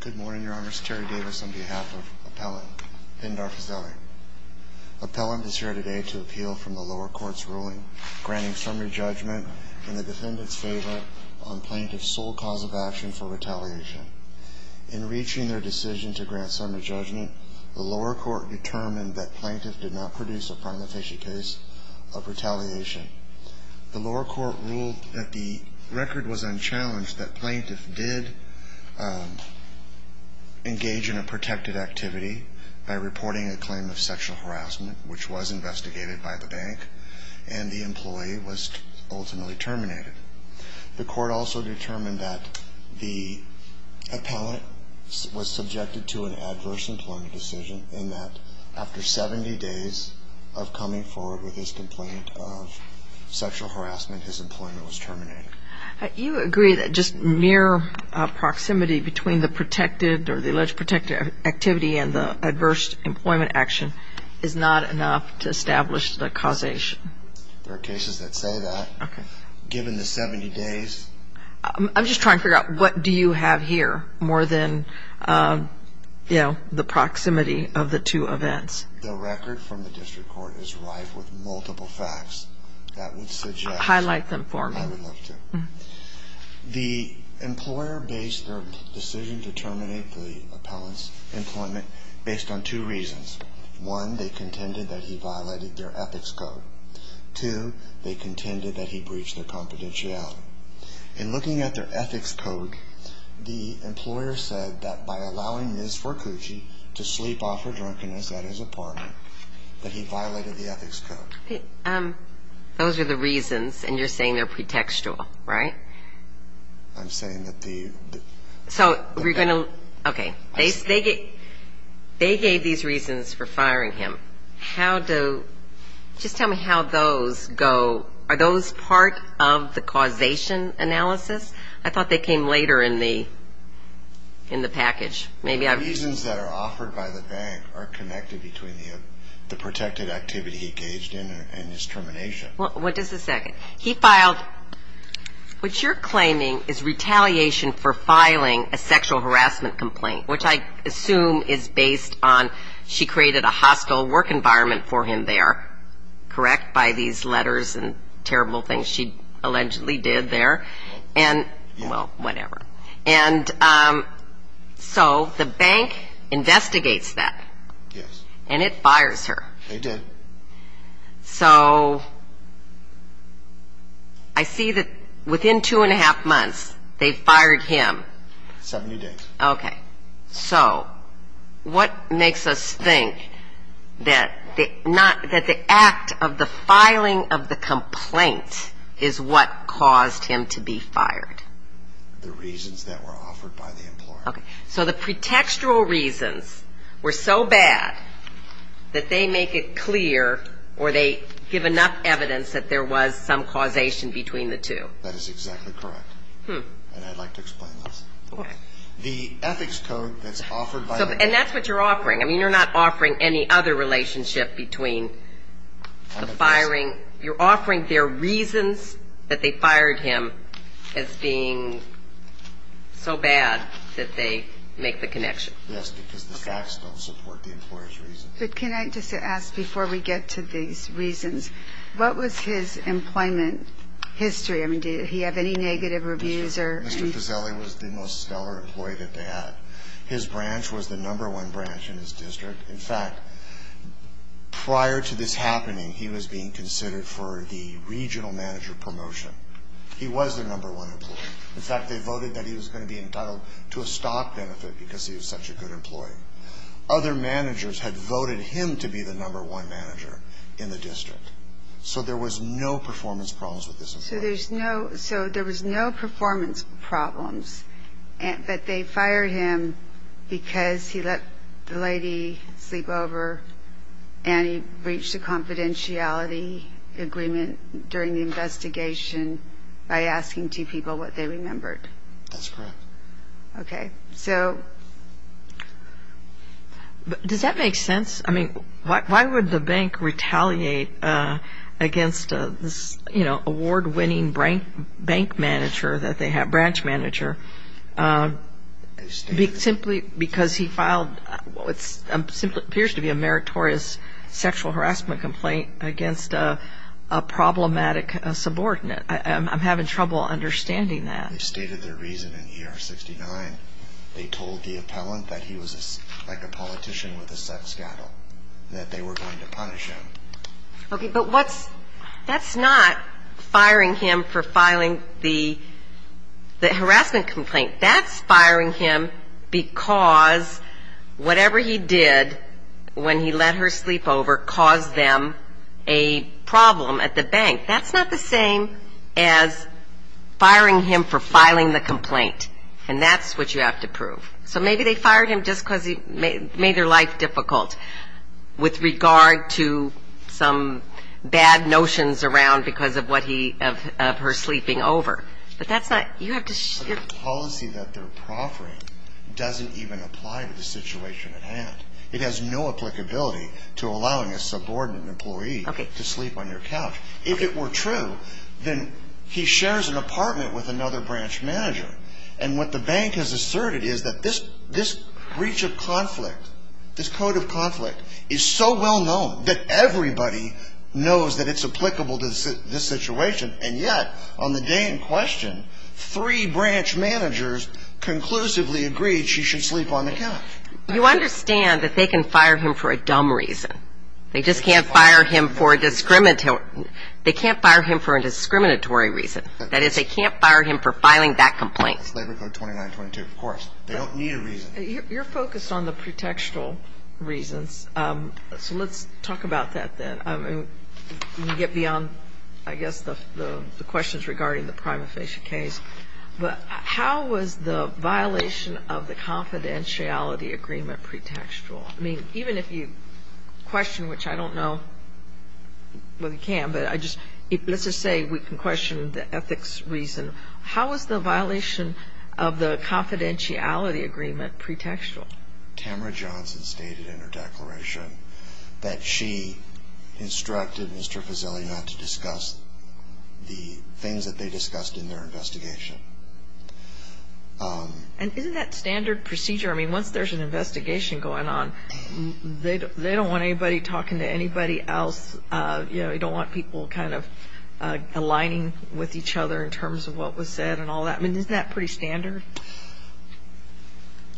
Good morning, Your Honor. It's Terry Davis on behalf of Appellant Pendar Fazeli. Appellant is here today to appeal from the lower court's ruling granting summary judgment in the defendant's favor on plaintiff's sole cause of action for retaliation. In reaching their decision to grant summary judgment, the lower court determined that plaintiff did not produce a prima facie case of retaliation. The lower court ruled that the record was unchallenged that plaintiff did engage in a protected activity by reporting a claim of sexual harassment, which was investigated by the bank, and the employee was ultimately terminated. The court also determined that the appellant was subjected to an adverse employment decision in that after 70 days of coming forward with his complaint of sexual harassment, his employment was terminated. You agree that just mere proximity between the protected or the alleged protected activity and the adverse employment action is not enough to establish the causation? There are cases that say that. Given the 70 days... I'm just trying to figure out what do you have here more than the proximity of the two events. The record from the district court is rife with multiple facts that would suggest... Highlight them for me. I would love to. The employer based their decision to terminate the appellant's employment based on two reasons. One, they contended that he violated their ethics code. Two, they contended that he breached their confidentiality. In looking at their ethics code, the employer said that by allowing Ms. Vercucci to sleep off her drunkenness at his apartment, that he violated the ethics code. Those are the reasons, and you're saying they're pretextual, right? I'm saying that the... So, we're going to... Okay. They gave these reasons for firing him. How do... Just tell me how those go... Are those part of the causation analysis? I thought they came later in the package. The reasons that are offered by the bank are connected between the protected activity he engaged in and his termination. What is the second? He filed what you're claiming is retaliation for filing a sexual harassment complaint, which I assume is based on she created a hostile work environment for him there. Correct? By these letters and terrible things she allegedly did there. Well, yeah. Well, whatever. And so, the bank investigates that. Yes. And it fires her. They did. So, I see that within two and a half months, they fired him. Seventy days. Okay. So, what makes us think that the act of the filing of the complaint is what caused him to be fired? The reasons that were offered by the employer. Okay. So, the pretextual reasons were so bad that they make it clear or they give enough evidence that there was some causation between the two. That is exactly correct. And I'd like to explain this. Okay. The ethics code that's offered by... And that's what you're offering. I mean, you're not offering any other relationship between the firing. You're offering their reasons that they fired him as being so bad that they make the connection. Yes, because the facts don't support the employer's reasons. But can I just ask, before we get to these reasons, what was his employment history? I mean, did he have any negative reviews or... Mr. Fuseli was the most stellar employee that they had. His branch was the number one branch in his district. In fact, prior to this happening, he was being considered for the regional manager promotion. He was the number one employee. In fact, they voted that he was going to be entitled to a stock benefit because he was such a good employee. Other managers had voted him to be the number one manager in the district. So there was no performance problems with this employee. So there was no performance problems, but they fired him because he let the lady sleep over and he breached the confidentiality agreement during the investigation by asking two people what they remembered. That's correct. Okay. So does that make sense? I mean, why would the bank retaliate against this, you know, award-winning bank manager that they have, branch manager, simply because he filed what appears to be a meritorious sexual harassment complaint against a problematic subordinate? I'm having trouble understanding that. When they stated their reason in ER 69, they told the appellant that he was like a politician with a sex scandal, that they were going to punish him. Okay. But that's not firing him for filing the harassment complaint. That's firing him because whatever he did when he let her sleep over caused them a problem at the bank. That's not the same as firing him for filing the complaint, and that's what you have to prove. So maybe they fired him just because he made their life difficult with regard to some bad notions around because of what he, of her sleeping over, but that's not, you have to. The policy that they're proffering doesn't even apply to the situation at hand. It has no applicability to allowing a subordinate employee to sleep on your couch. If it were true, then he shares an apartment with another branch manager, and what the bank has asserted is that this breach of conflict, this code of conflict, is so well known that everybody knows that it's applicable to this situation, and yet on the day in question, three branch managers conclusively agreed she should sleep on the couch. You understand that they can fire him for a dumb reason. They just can't fire him for a discriminatory reason. That is, they can't fire him for filing that complaint. Labor Code 2922, of course. They don't need a reason. You're focused on the pretextual reasons, so let's talk about that then. You get beyond, I guess, the questions regarding the prima facie case, but how was the violation of the confidentiality agreement pretextual? I mean, even if you question, which I don't know whether you can, but let's just say we can question the ethics reason. How was the violation of the confidentiality agreement pretextual? Tamara Johnson stated in her declaration that she instructed Mr. Fazili not to discuss the things that they discussed in their investigation. And isn't that standard procedure? I mean, once there's an investigation going on, they don't want anybody talking to anybody else. They don't want people kind of aligning with each other in terms of what was said and all that. I mean, isn't that pretty standard?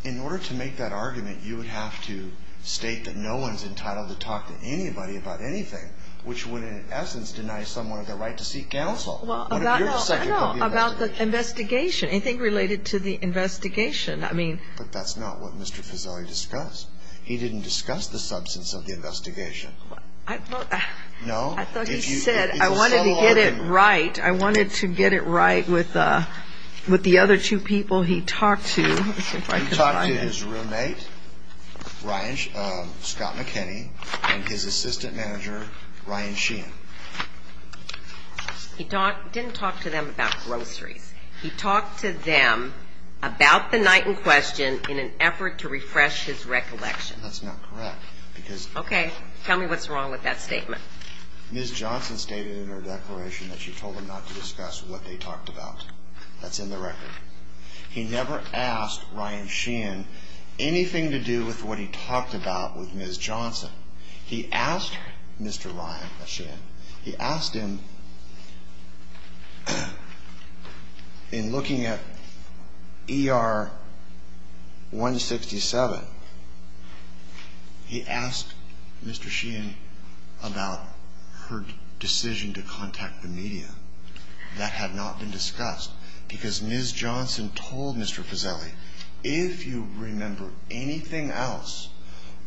In order to make that argument, you would have to state that no one's entitled to talk to anybody about anything, which would, in essence, deny someone the right to seek counsel. Well, about the investigation, anything related to the investigation, I mean. But that's not what Mr. Fazili discussed. He didn't discuss the substance of the investigation. I thought he said I wanted to get it right. I wanted to get it right with the other two people he talked to. He talked to his roommate, Scott McKinney, and his assistant manager, Ryan Sheehan. He didn't talk to them about groceries. He talked to them about the night in question in an effort to refresh his recollection. That's not correct because. Okay. Tell me what's wrong with that statement. Ms. Johnson stated in her declaration that she told them not to discuss what they talked about. That's in the record. He never asked Ryan Sheehan anything to do with what he talked about with Ms. Johnson. He asked Mr. Ryan Sheehan, he asked him in looking at ER 167, he asked Mr. Sheehan about her decision to contact the media. That had not been discussed because Ms. Johnson told Mr. Fazili, if you remember anything else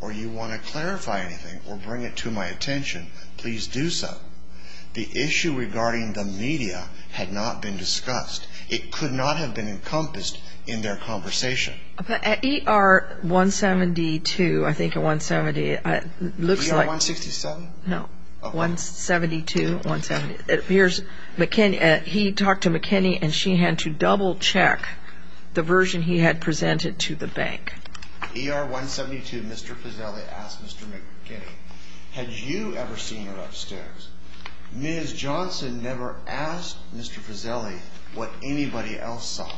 or you want to clarify anything or bring it to my attention, please do so. The issue regarding the media had not been discussed. It could not have been encompassed in their conversation. But at ER 172, I think at 170, it looks like. ER 167? No, 172, 170. He talked to McKinney and Sheehan to double check the version he had presented to the bank. ER 172, Mr. Fazili asked Mr. McKinney, had you ever seen her upstairs? Ms. Johnson never asked Mr. Fazili what anybody else saw.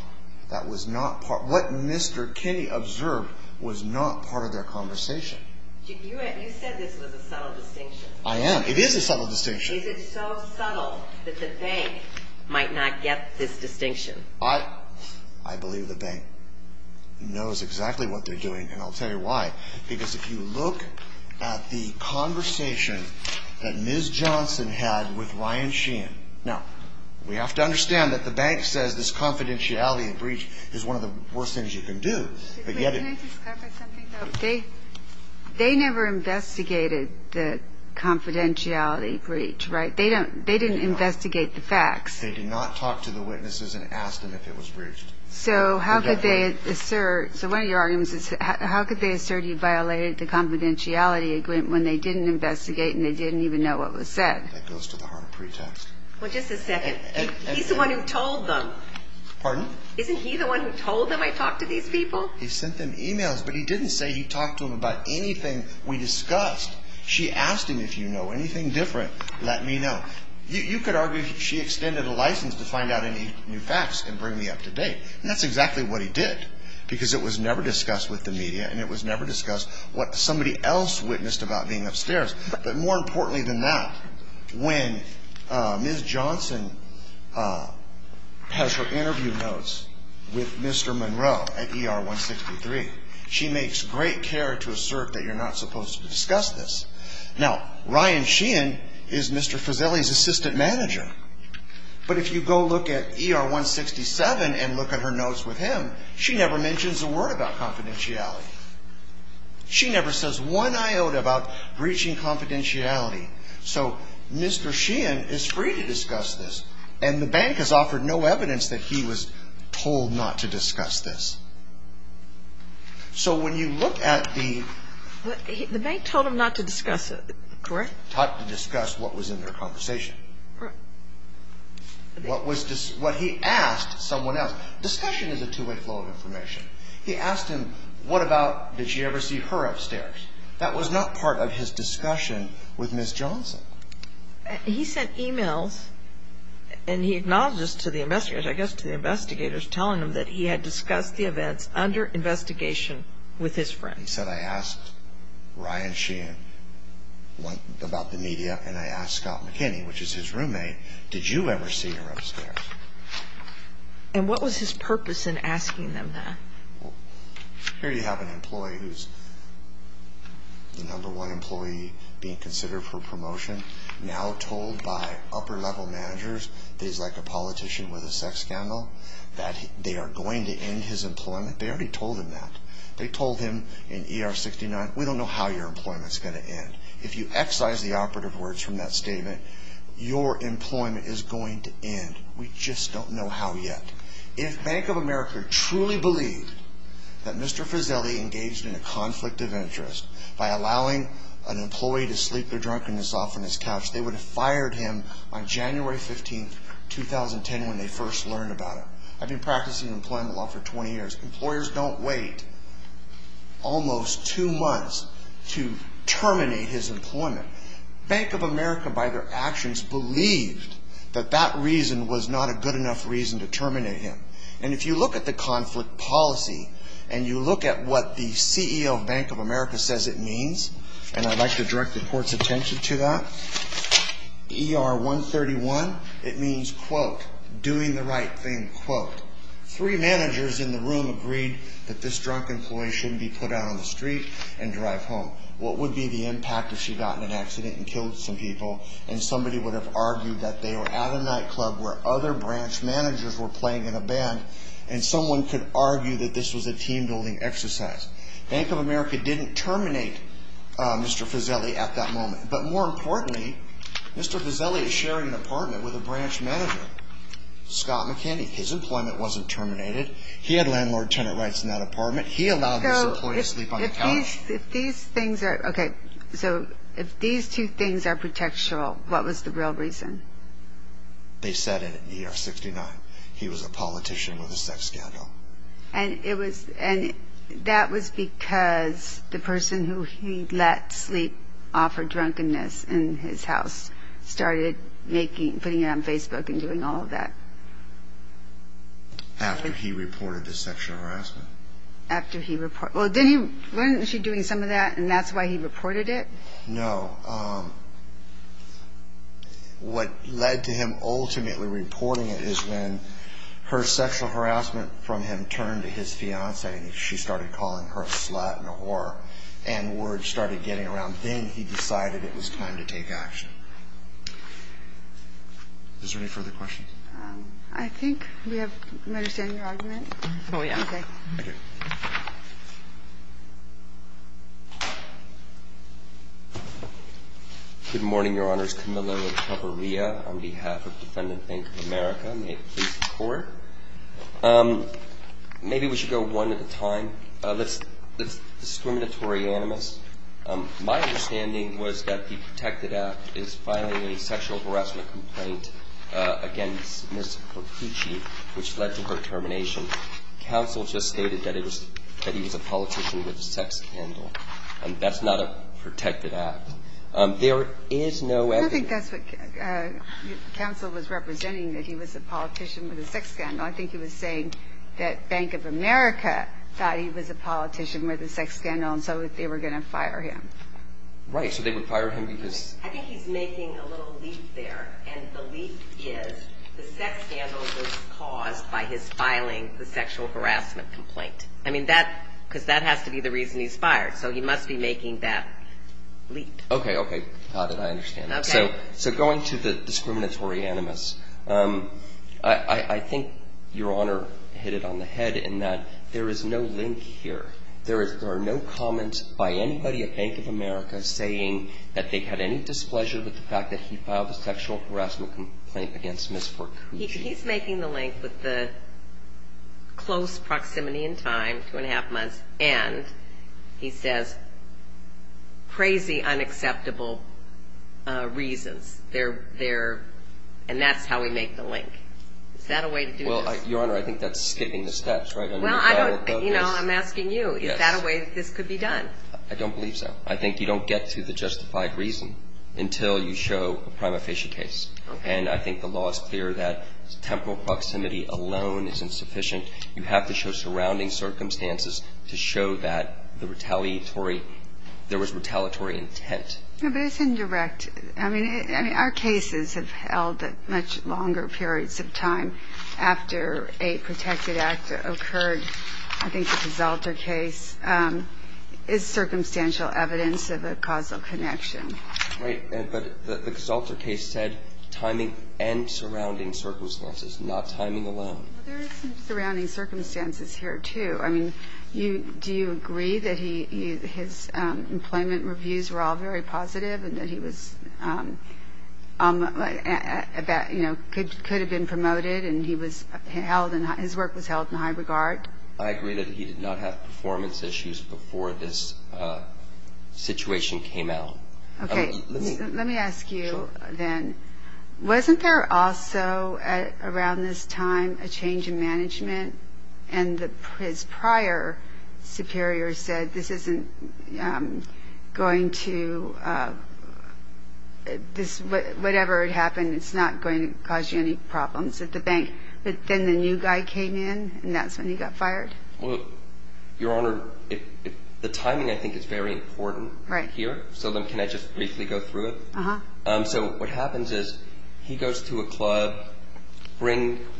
What Mr. Kinney observed was not part of their conversation. You said this was a subtle distinction. I am. It is a subtle distinction. Is it so subtle that the bank might not get this distinction? I believe the bank knows exactly what they're doing, and I'll tell you why. Because if you look at the conversation that Ms. Johnson had with Ryan Sheehan, now, we have to understand that the bank says this confidentiality breach is one of the worst things you can do. They never investigated the confidentiality breach, right? They didn't investigate the facts. They did not talk to the witnesses and ask them if it was breached. So how could they assert you violated the confidentiality agreement when they didn't investigate and they didn't even know what was said? That goes to the harm of pretext. Well, just a second. He's the one who told them. Pardon? Isn't he the one who told them I talked to these people? He sent them e-mails, but he didn't say he talked to them about anything we discussed. She asked him, if you know anything different, let me know. You could argue she extended a license to find out any new facts and bring me up to date, and that's exactly what he did because it was never discussed with the media and it was never discussed what somebody else witnessed about being upstairs. But more importantly than that, when Ms. Johnson has her interview notes with Mr. Monroe at ER-163, she makes great care to assert that you're not supposed to discuss this. Now, Ryan Sheehan is Mr. Fuseli's assistant manager, but if you go look at ER-167 and look at her notes with him, she never mentions a word about confidentiality. She never says one iota about breaching confidentiality. So Mr. Sheehan is free to discuss this, and the bank has offered no evidence that he was told not to discuss this. So when you look at the... The bank told him not to discuss it, correct? Taught to discuss what was in their conversation. Correct. What he asked someone else. Discussion is a two-way flow of information. He asked him, what about did she ever see her upstairs? That was not part of his discussion with Ms. Johnson. He sent e-mails, and he acknowledged this to the investigators, I guess to the investigators, telling them that he had discussed the events under investigation with his friend. He said, I asked Ryan Sheehan about the media, and I asked Scott McKinney, which is his roommate, did you ever see her upstairs? And what was his purpose in asking them that? Here you have an employee who's the number one employee being considered for promotion, now told by upper-level managers that he's like a politician with a sex scandal, that they are going to end his employment. They already told him that. They told him in ER 69, we don't know how your employment's going to end. If you excise the operative words from that statement, your employment is going to end. We just don't know how yet. If Bank of America truly believed that Mr. Frizzelli engaged in a conflict of interest by allowing an employee to sleep their drunkenness off on his couch, they would have fired him on January 15, 2010, when they first learned about him. I've been practicing employment law for 20 years. Employers don't wait almost two months to terminate his employment. Bank of America, by their actions, believed that that reason was not a good enough reason to terminate him. And if you look at the conflict policy, and you look at what the CEO of Bank of America says it means, and I'd like to direct the court's attention to that, ER 131, it means, quote, doing the right thing, quote, three managers in the room agreed that this drunk employee shouldn't be put out on the street and drive home. What would be the impact if she got in an accident and killed some people, and somebody would have argued that they were at a nightclub where other branch managers were playing in a band, and someone could argue that this was a team-building exercise? Bank of America didn't terminate Mr. Frizzelli at that moment. But more importantly, Mr. Frizzelli is sharing an apartment with a branch manager, Scott McKinney. His employment wasn't terminated. He had landlord-tenant rights in that apartment. He allowed this employee to sleep on the couch. If these things are, okay, so if these two things are protectional, what was the real reason? They said it in ER 69. He was a politician with a sex scandal. And it was, and that was because the person who he let sleep off her drunkenness in his house started making, putting it on Facebook and doing all of that. After he reported the sexual harassment. After he reported, well, then he, wasn't she doing some of that, and that's why he reported it? No. What led to him ultimately reporting it is when her sexual harassment from him turned to his fiancée, and she started calling her a slut and a whore, and word started getting around. Then he decided it was time to take action. Is there any further questions? I think we have, am I understanding your argument? Oh, yeah. Okay. Good morning, Your Honors. Camilo Cabreria on behalf of Defendant Bank of America. May it please the Court. Maybe we should go one at a time. Let's, discriminatory animus. My understanding was that the protected act is filing a sexual harassment complaint against Ms. Perpucci, which led to her termination. Counsel just stated that he was a politician with a sex scandal. That's not a protected act. There is no evidence. I think that's what counsel was representing, that he was a politician with a sex scandal. I think he was saying that Bank of America thought he was a politician with a sex scandal, and so they were going to fire him. Right, so they would fire him because. I think he's making a little leap there, and the leap is the sex scandal was caused by his filing the sexual harassment complaint. I mean, that, because that has to be the reason he's fired, so he must be making that leap. Okay, okay. How did I understand that? Okay. So going to the discriminatory animus, I think Your Honor hit it on the head in that there is no link here. There are no comments by anybody at Bank of America saying that they had any displeasure with the fact that he filed a sexual harassment complaint against Ms. Perpucci. He's making the link with the close proximity in time, two and a half months, and he says crazy unacceptable reasons, and that's how we make the link. Is that a way to do this? Well, Your Honor, I think that's skipping the steps, right? Well, I don't, you know, I'm asking you, is that a way that this could be done? I don't believe so. I think you don't get to the justified reason until you show a prima facie case. Okay. And I think the law is clear that temporal proximity alone is insufficient. You have to show surrounding circumstances to show that the retaliatory, there was retaliatory intent. No, but it's indirect. I mean, our cases have held at much longer periods of time after a protected act occurred. I think the Casalter case is circumstantial evidence of a causal connection. Right. But the Casalter case said timing and surrounding circumstances, not timing alone. There is some surrounding circumstances here, too. I mean, do you agree that his employment reviews were all very positive and that he could have been promoted and his work was held in high regard? I agree that he did not have performance issues before this situation came out. Okay. Let me ask you then, wasn't there also around this time a change in management and his prior superior said this isn't going to, whatever had happened, it's not going to cause you any problems at the bank, but then the new guy came in and that's when he got fired? Well, Your Honor, the timing I think is very important here. So then can I just briefly go through it? Uh-huh. So what happens is he goes to a club,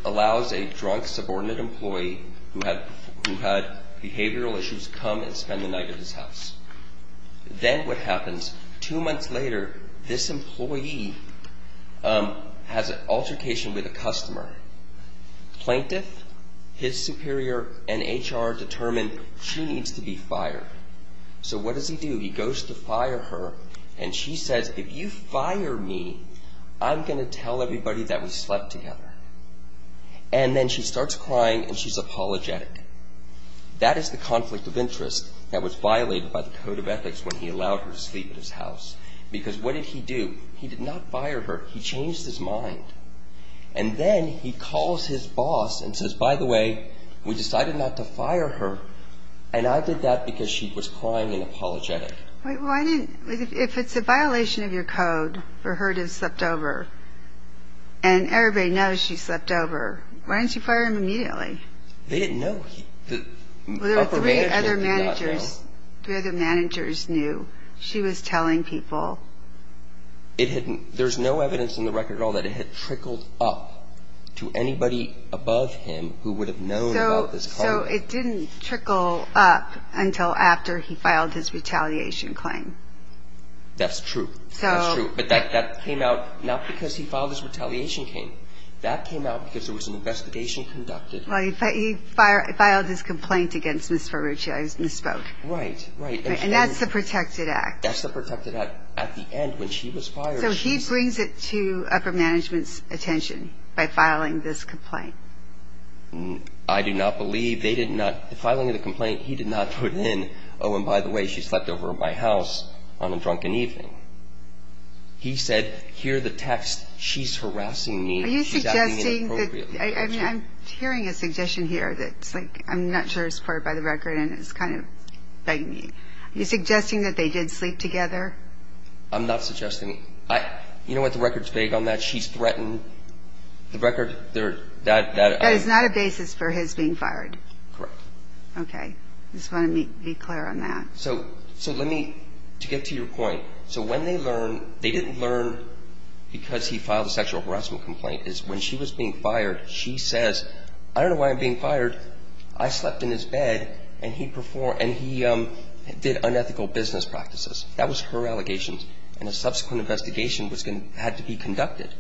allows a drunk subordinate employee who had behavioral issues to come and spend the night at his house. Then what happens, two months later this employee has an altercation with a customer. Plaintiff, his superior, and HR determine she needs to be fired. So what does he do? He goes to fire her and she says, if you fire me, I'm going to tell everybody that we slept together. And then she starts crying and she's apologetic. That is the conflict of interest that was violated by the Code of Ethics when he allowed her to sleep at his house because what did he do? He did not fire her. He changed his mind. And then he calls his boss and says, by the way, we decided not to fire her and I did that because she was crying and apologetic. Wait, why didn't, if it's a violation of your code for her to have slept over and everybody knows she slept over, why didn't you fire him immediately? They didn't know. Well, there were three other managers, three other managers knew. She was telling people. It had, there's no evidence in the record at all that it had trickled up to anybody above him who would have known about this conflict. So it didn't trickle up until after he filed his retaliation claim. That's true. That's true. But that came out not because he filed his retaliation claim. That came out because there was an investigation conducted. Well, he filed his complaint against Ms. Ferrucci. I misspoke. Right, right. And that's the protected act. That's the protected act. At the end, when she was fired, she was fired. So he brings it to upper management's attention by filing this complaint. I do not believe they did not, the filing of the complaint, he did not put in, oh, and by the way, she slept over at my house on a drunken evening. He said, hear the text, she's harassing me. Are you suggesting that, I mean, I'm hearing a suggestion here that's like, I'm not sure it's part of the record and it's kind of bugging me. Are you suggesting that they did sleep together? I'm not suggesting. You know what, the record's vague on that. She's threatened the record. That is not a basis for his being fired. Correct. Okay. I just want to be clear on that. So let me, to get to your point, so when they learn, they didn't learn because he filed a sexual harassment complaint, is when she was being fired, she says, I don't know why I'm being fired. I slept in his bed and he did unethical business practices. That was her allegations. And a subsequent investigation had to be conducted.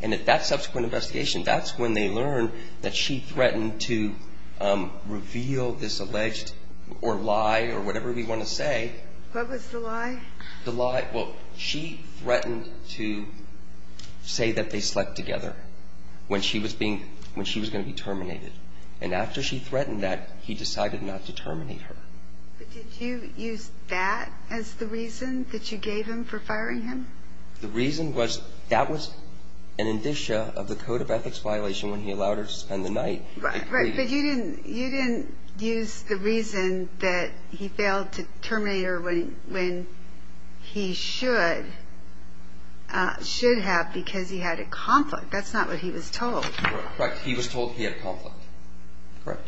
And at that subsequent investigation, that's when they learn that she threatened to reveal this alleged, or lie, or whatever we want to say. What was the lie? The lie, well, she threatened to say that they slept together when she was going to be terminated. And after she threatened that, he decided not to terminate her. But did you use that as the reason that you gave him for firing him? The reason was that was an indicia of the code of ethics violation when he allowed her to spend the night. Right. But you didn't use the reason that he failed to terminate her when he should have because he had a conflict. That's not what he was told. Correct. He was told he had a conflict. Correct.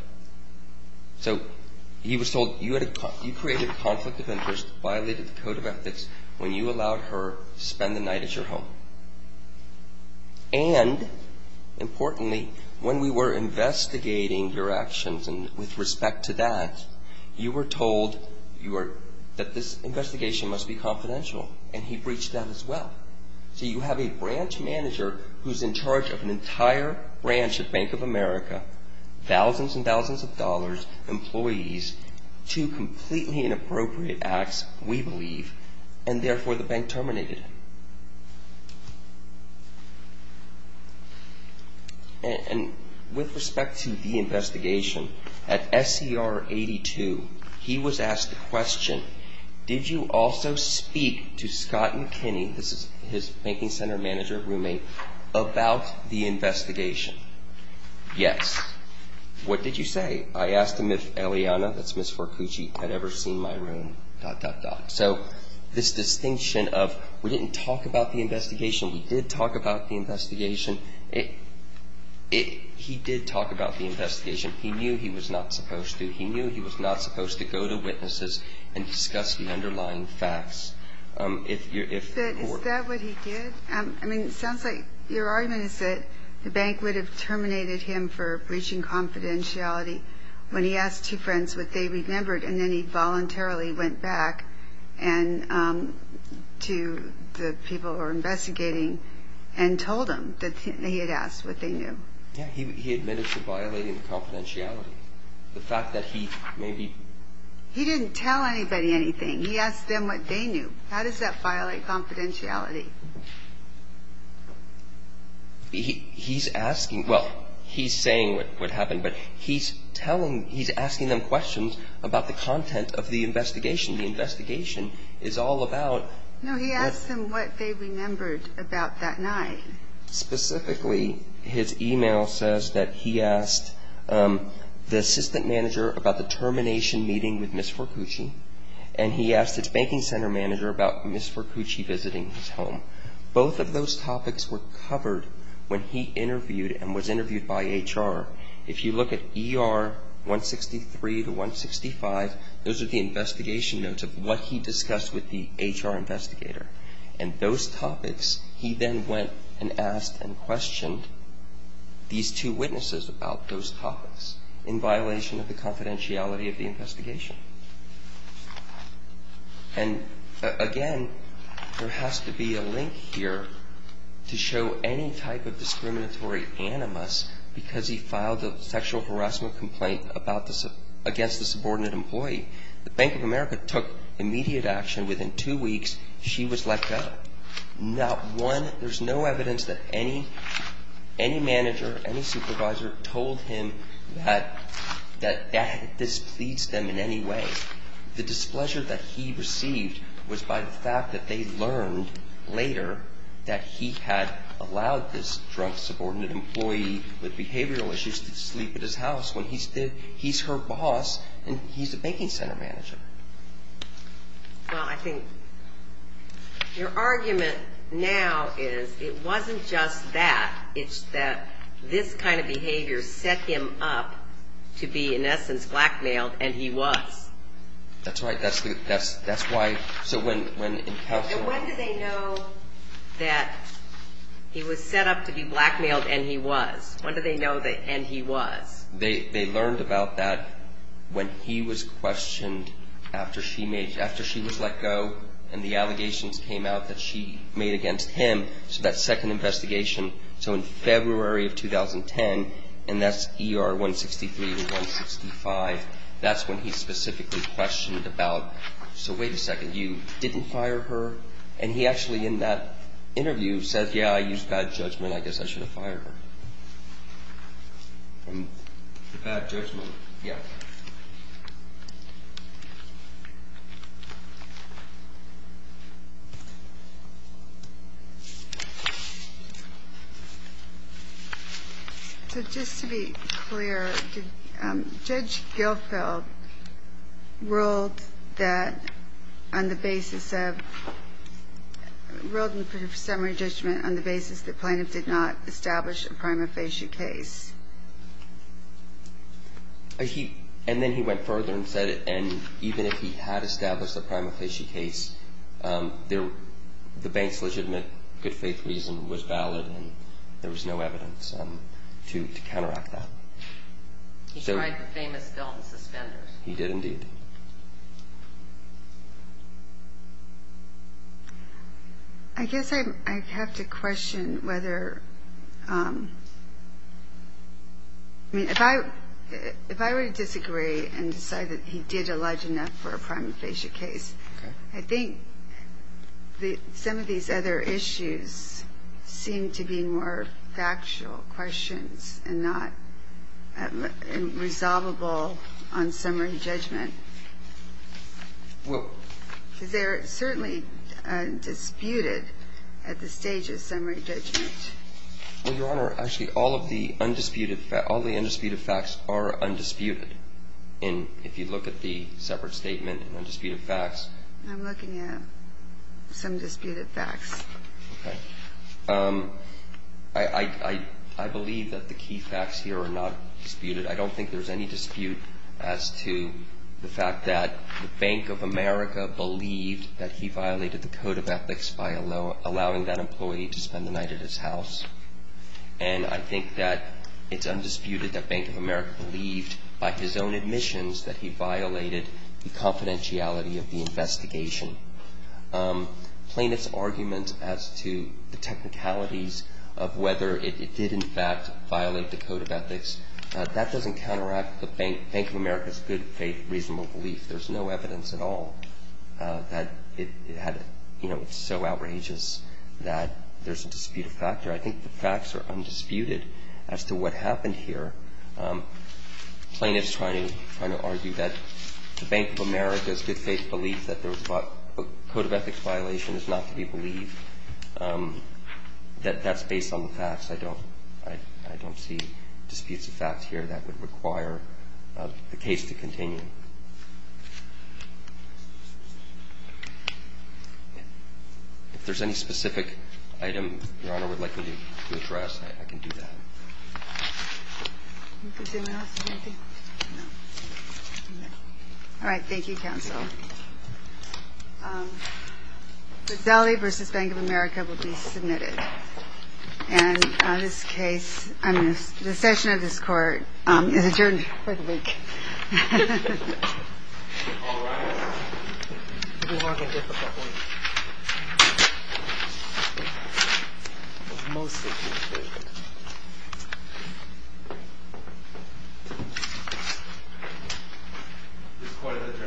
So he was told you created a conflict of interest, violated the code of ethics, when you allowed her to spend the night at your home. And, importantly, when we were investigating your actions and with respect to that, you were told that this investigation must be confidential. And he breached that as well. So you have a branch manager who's in charge of an entire branch of Bank of America, thousands and thousands of dollars, employees, two completely inappropriate acts, we believe, and, therefore, the bank terminated him. And with respect to the investigation, at SCR 82, he was asked the question, did you also speak to Scott McKinney, this is his banking center manager roommate, about the investigation? Yes. What did you say? I asked him if Eliana, that's Ms. Forcucci, had ever seen my room, dot, dot, dot. So this distinction of we didn't talk about the investigation, he did talk about the investigation, he did talk about the investigation. He knew he was not supposed to. He knew he was not supposed to go to witnesses and discuss the underlying facts. But is that what he did? I mean, it sounds like your argument is that the bank would have terminated him for breaching confidentiality when he asked two friends what they remembered and then he voluntarily went back to the people who were investigating and told them that he had asked what they knew. Yeah, he admitted to violating confidentiality. The fact that he maybe... He didn't tell anybody anything. He asked them what they knew. How does that violate confidentiality? He's asking, well, he's saying what happened, but he's asking them questions about the content of the investigation. The investigation is all about... No, he asked them what they remembered about that night. Specifically, his email says that he asked the assistant manager about the termination meeting with Ms. Forcucci and he asked his banking center manager about Ms. Forcucci visiting his home. Both of those topics were covered when he interviewed and was interviewed by HR. If you look at ER 163 to 165, those are the investigation notes of what he discussed with the HR investigator. And those topics, he then went and asked and questioned these two witnesses about those topics in violation of the confidentiality of the investigation. And, again, there has to be a link here to show any type of discriminatory animus because he filed a sexual harassment complaint against the subordinate employee. The Bank of America took immediate action. Within two weeks, she was let go. There's no evidence that any manager, any supervisor, told him that this pleads them in any way. The displeasure that he received was by the fact that they learned later that he had allowed this drunk subordinate employee with behavioral issues to sleep at his house when he's her boss and he's the banking center manager. Well, I think your argument now is it wasn't just that. It's that this kind of behavior set him up to be, in essence, blackmailed, and he was. That's right. That's why. So when did they know that he was set up to be blackmailed and he was? When did they know that and he was? They learned about that when he was questioned after she was let go and the allegations came out that she made against him, so that second investigation. So in February of 2010, and that's ER 163 and 165, that's when he specifically questioned about, so wait a second, you didn't fire her? And he actually, in that interview, said, yeah, I used bad judgment. I guess I should have fired her. Bad judgment, yeah. So just to be clear, Judge Gilfeld ruled that on the basis of, ruled in the summary judgment on the basis that Planoff did not establish a prima facie case. And then he went further and said, and even if he had established a prima facie case, the bank's legitimate good faith reason was valid and there was no evidence to counteract that. He tried the famous Dalton suspenders. He did, indeed. I guess I have to question whether, I mean, if I were to disagree and decide that he did allege enough for a prima facie case, I think some of these other issues seem to be more factual questions and not resolvable on summary judgment. Well. Because they're certainly disputed at the stage of summary judgment. Well, Your Honor, actually, all of the undisputed facts are undisputed. And if you look at the separate statement and undisputed facts. I'm looking at some disputed facts. Okay. I believe that the key facts here are not disputed. I don't think there's any dispute as to the fact that the Bank of America believed that he violated the code of ethics by allowing that employee to spend the night at his house. And I think that it's undisputed that Bank of America believed by his own admissions that he violated the confidentiality of the investigation. Plaintiff's argument as to the technicalities of whether it did, in fact, violate the code of ethics, that doesn't counteract the Bank of America's good-faith reasonable belief. There's no evidence at all that it had, you know, it's so outrageous that there's a disputed factor. I think the facts are undisputed as to what happened here. Plaintiff's trying to argue that the Bank of America's good-faith belief that there was a code of ethics violation is not to be believed, that that's based on the facts. I don't see disputes of fact here that would require the case to continue. If there's any specific item Your Honor would like me to address, I can do that. All right. Thank you, counsel. Rizzelli v. Bank of America will be submitted. And this case, I mean, the session of this court is adjourned for the week. All rise. You walk a difficult way. Most of you do. This court is adjourned.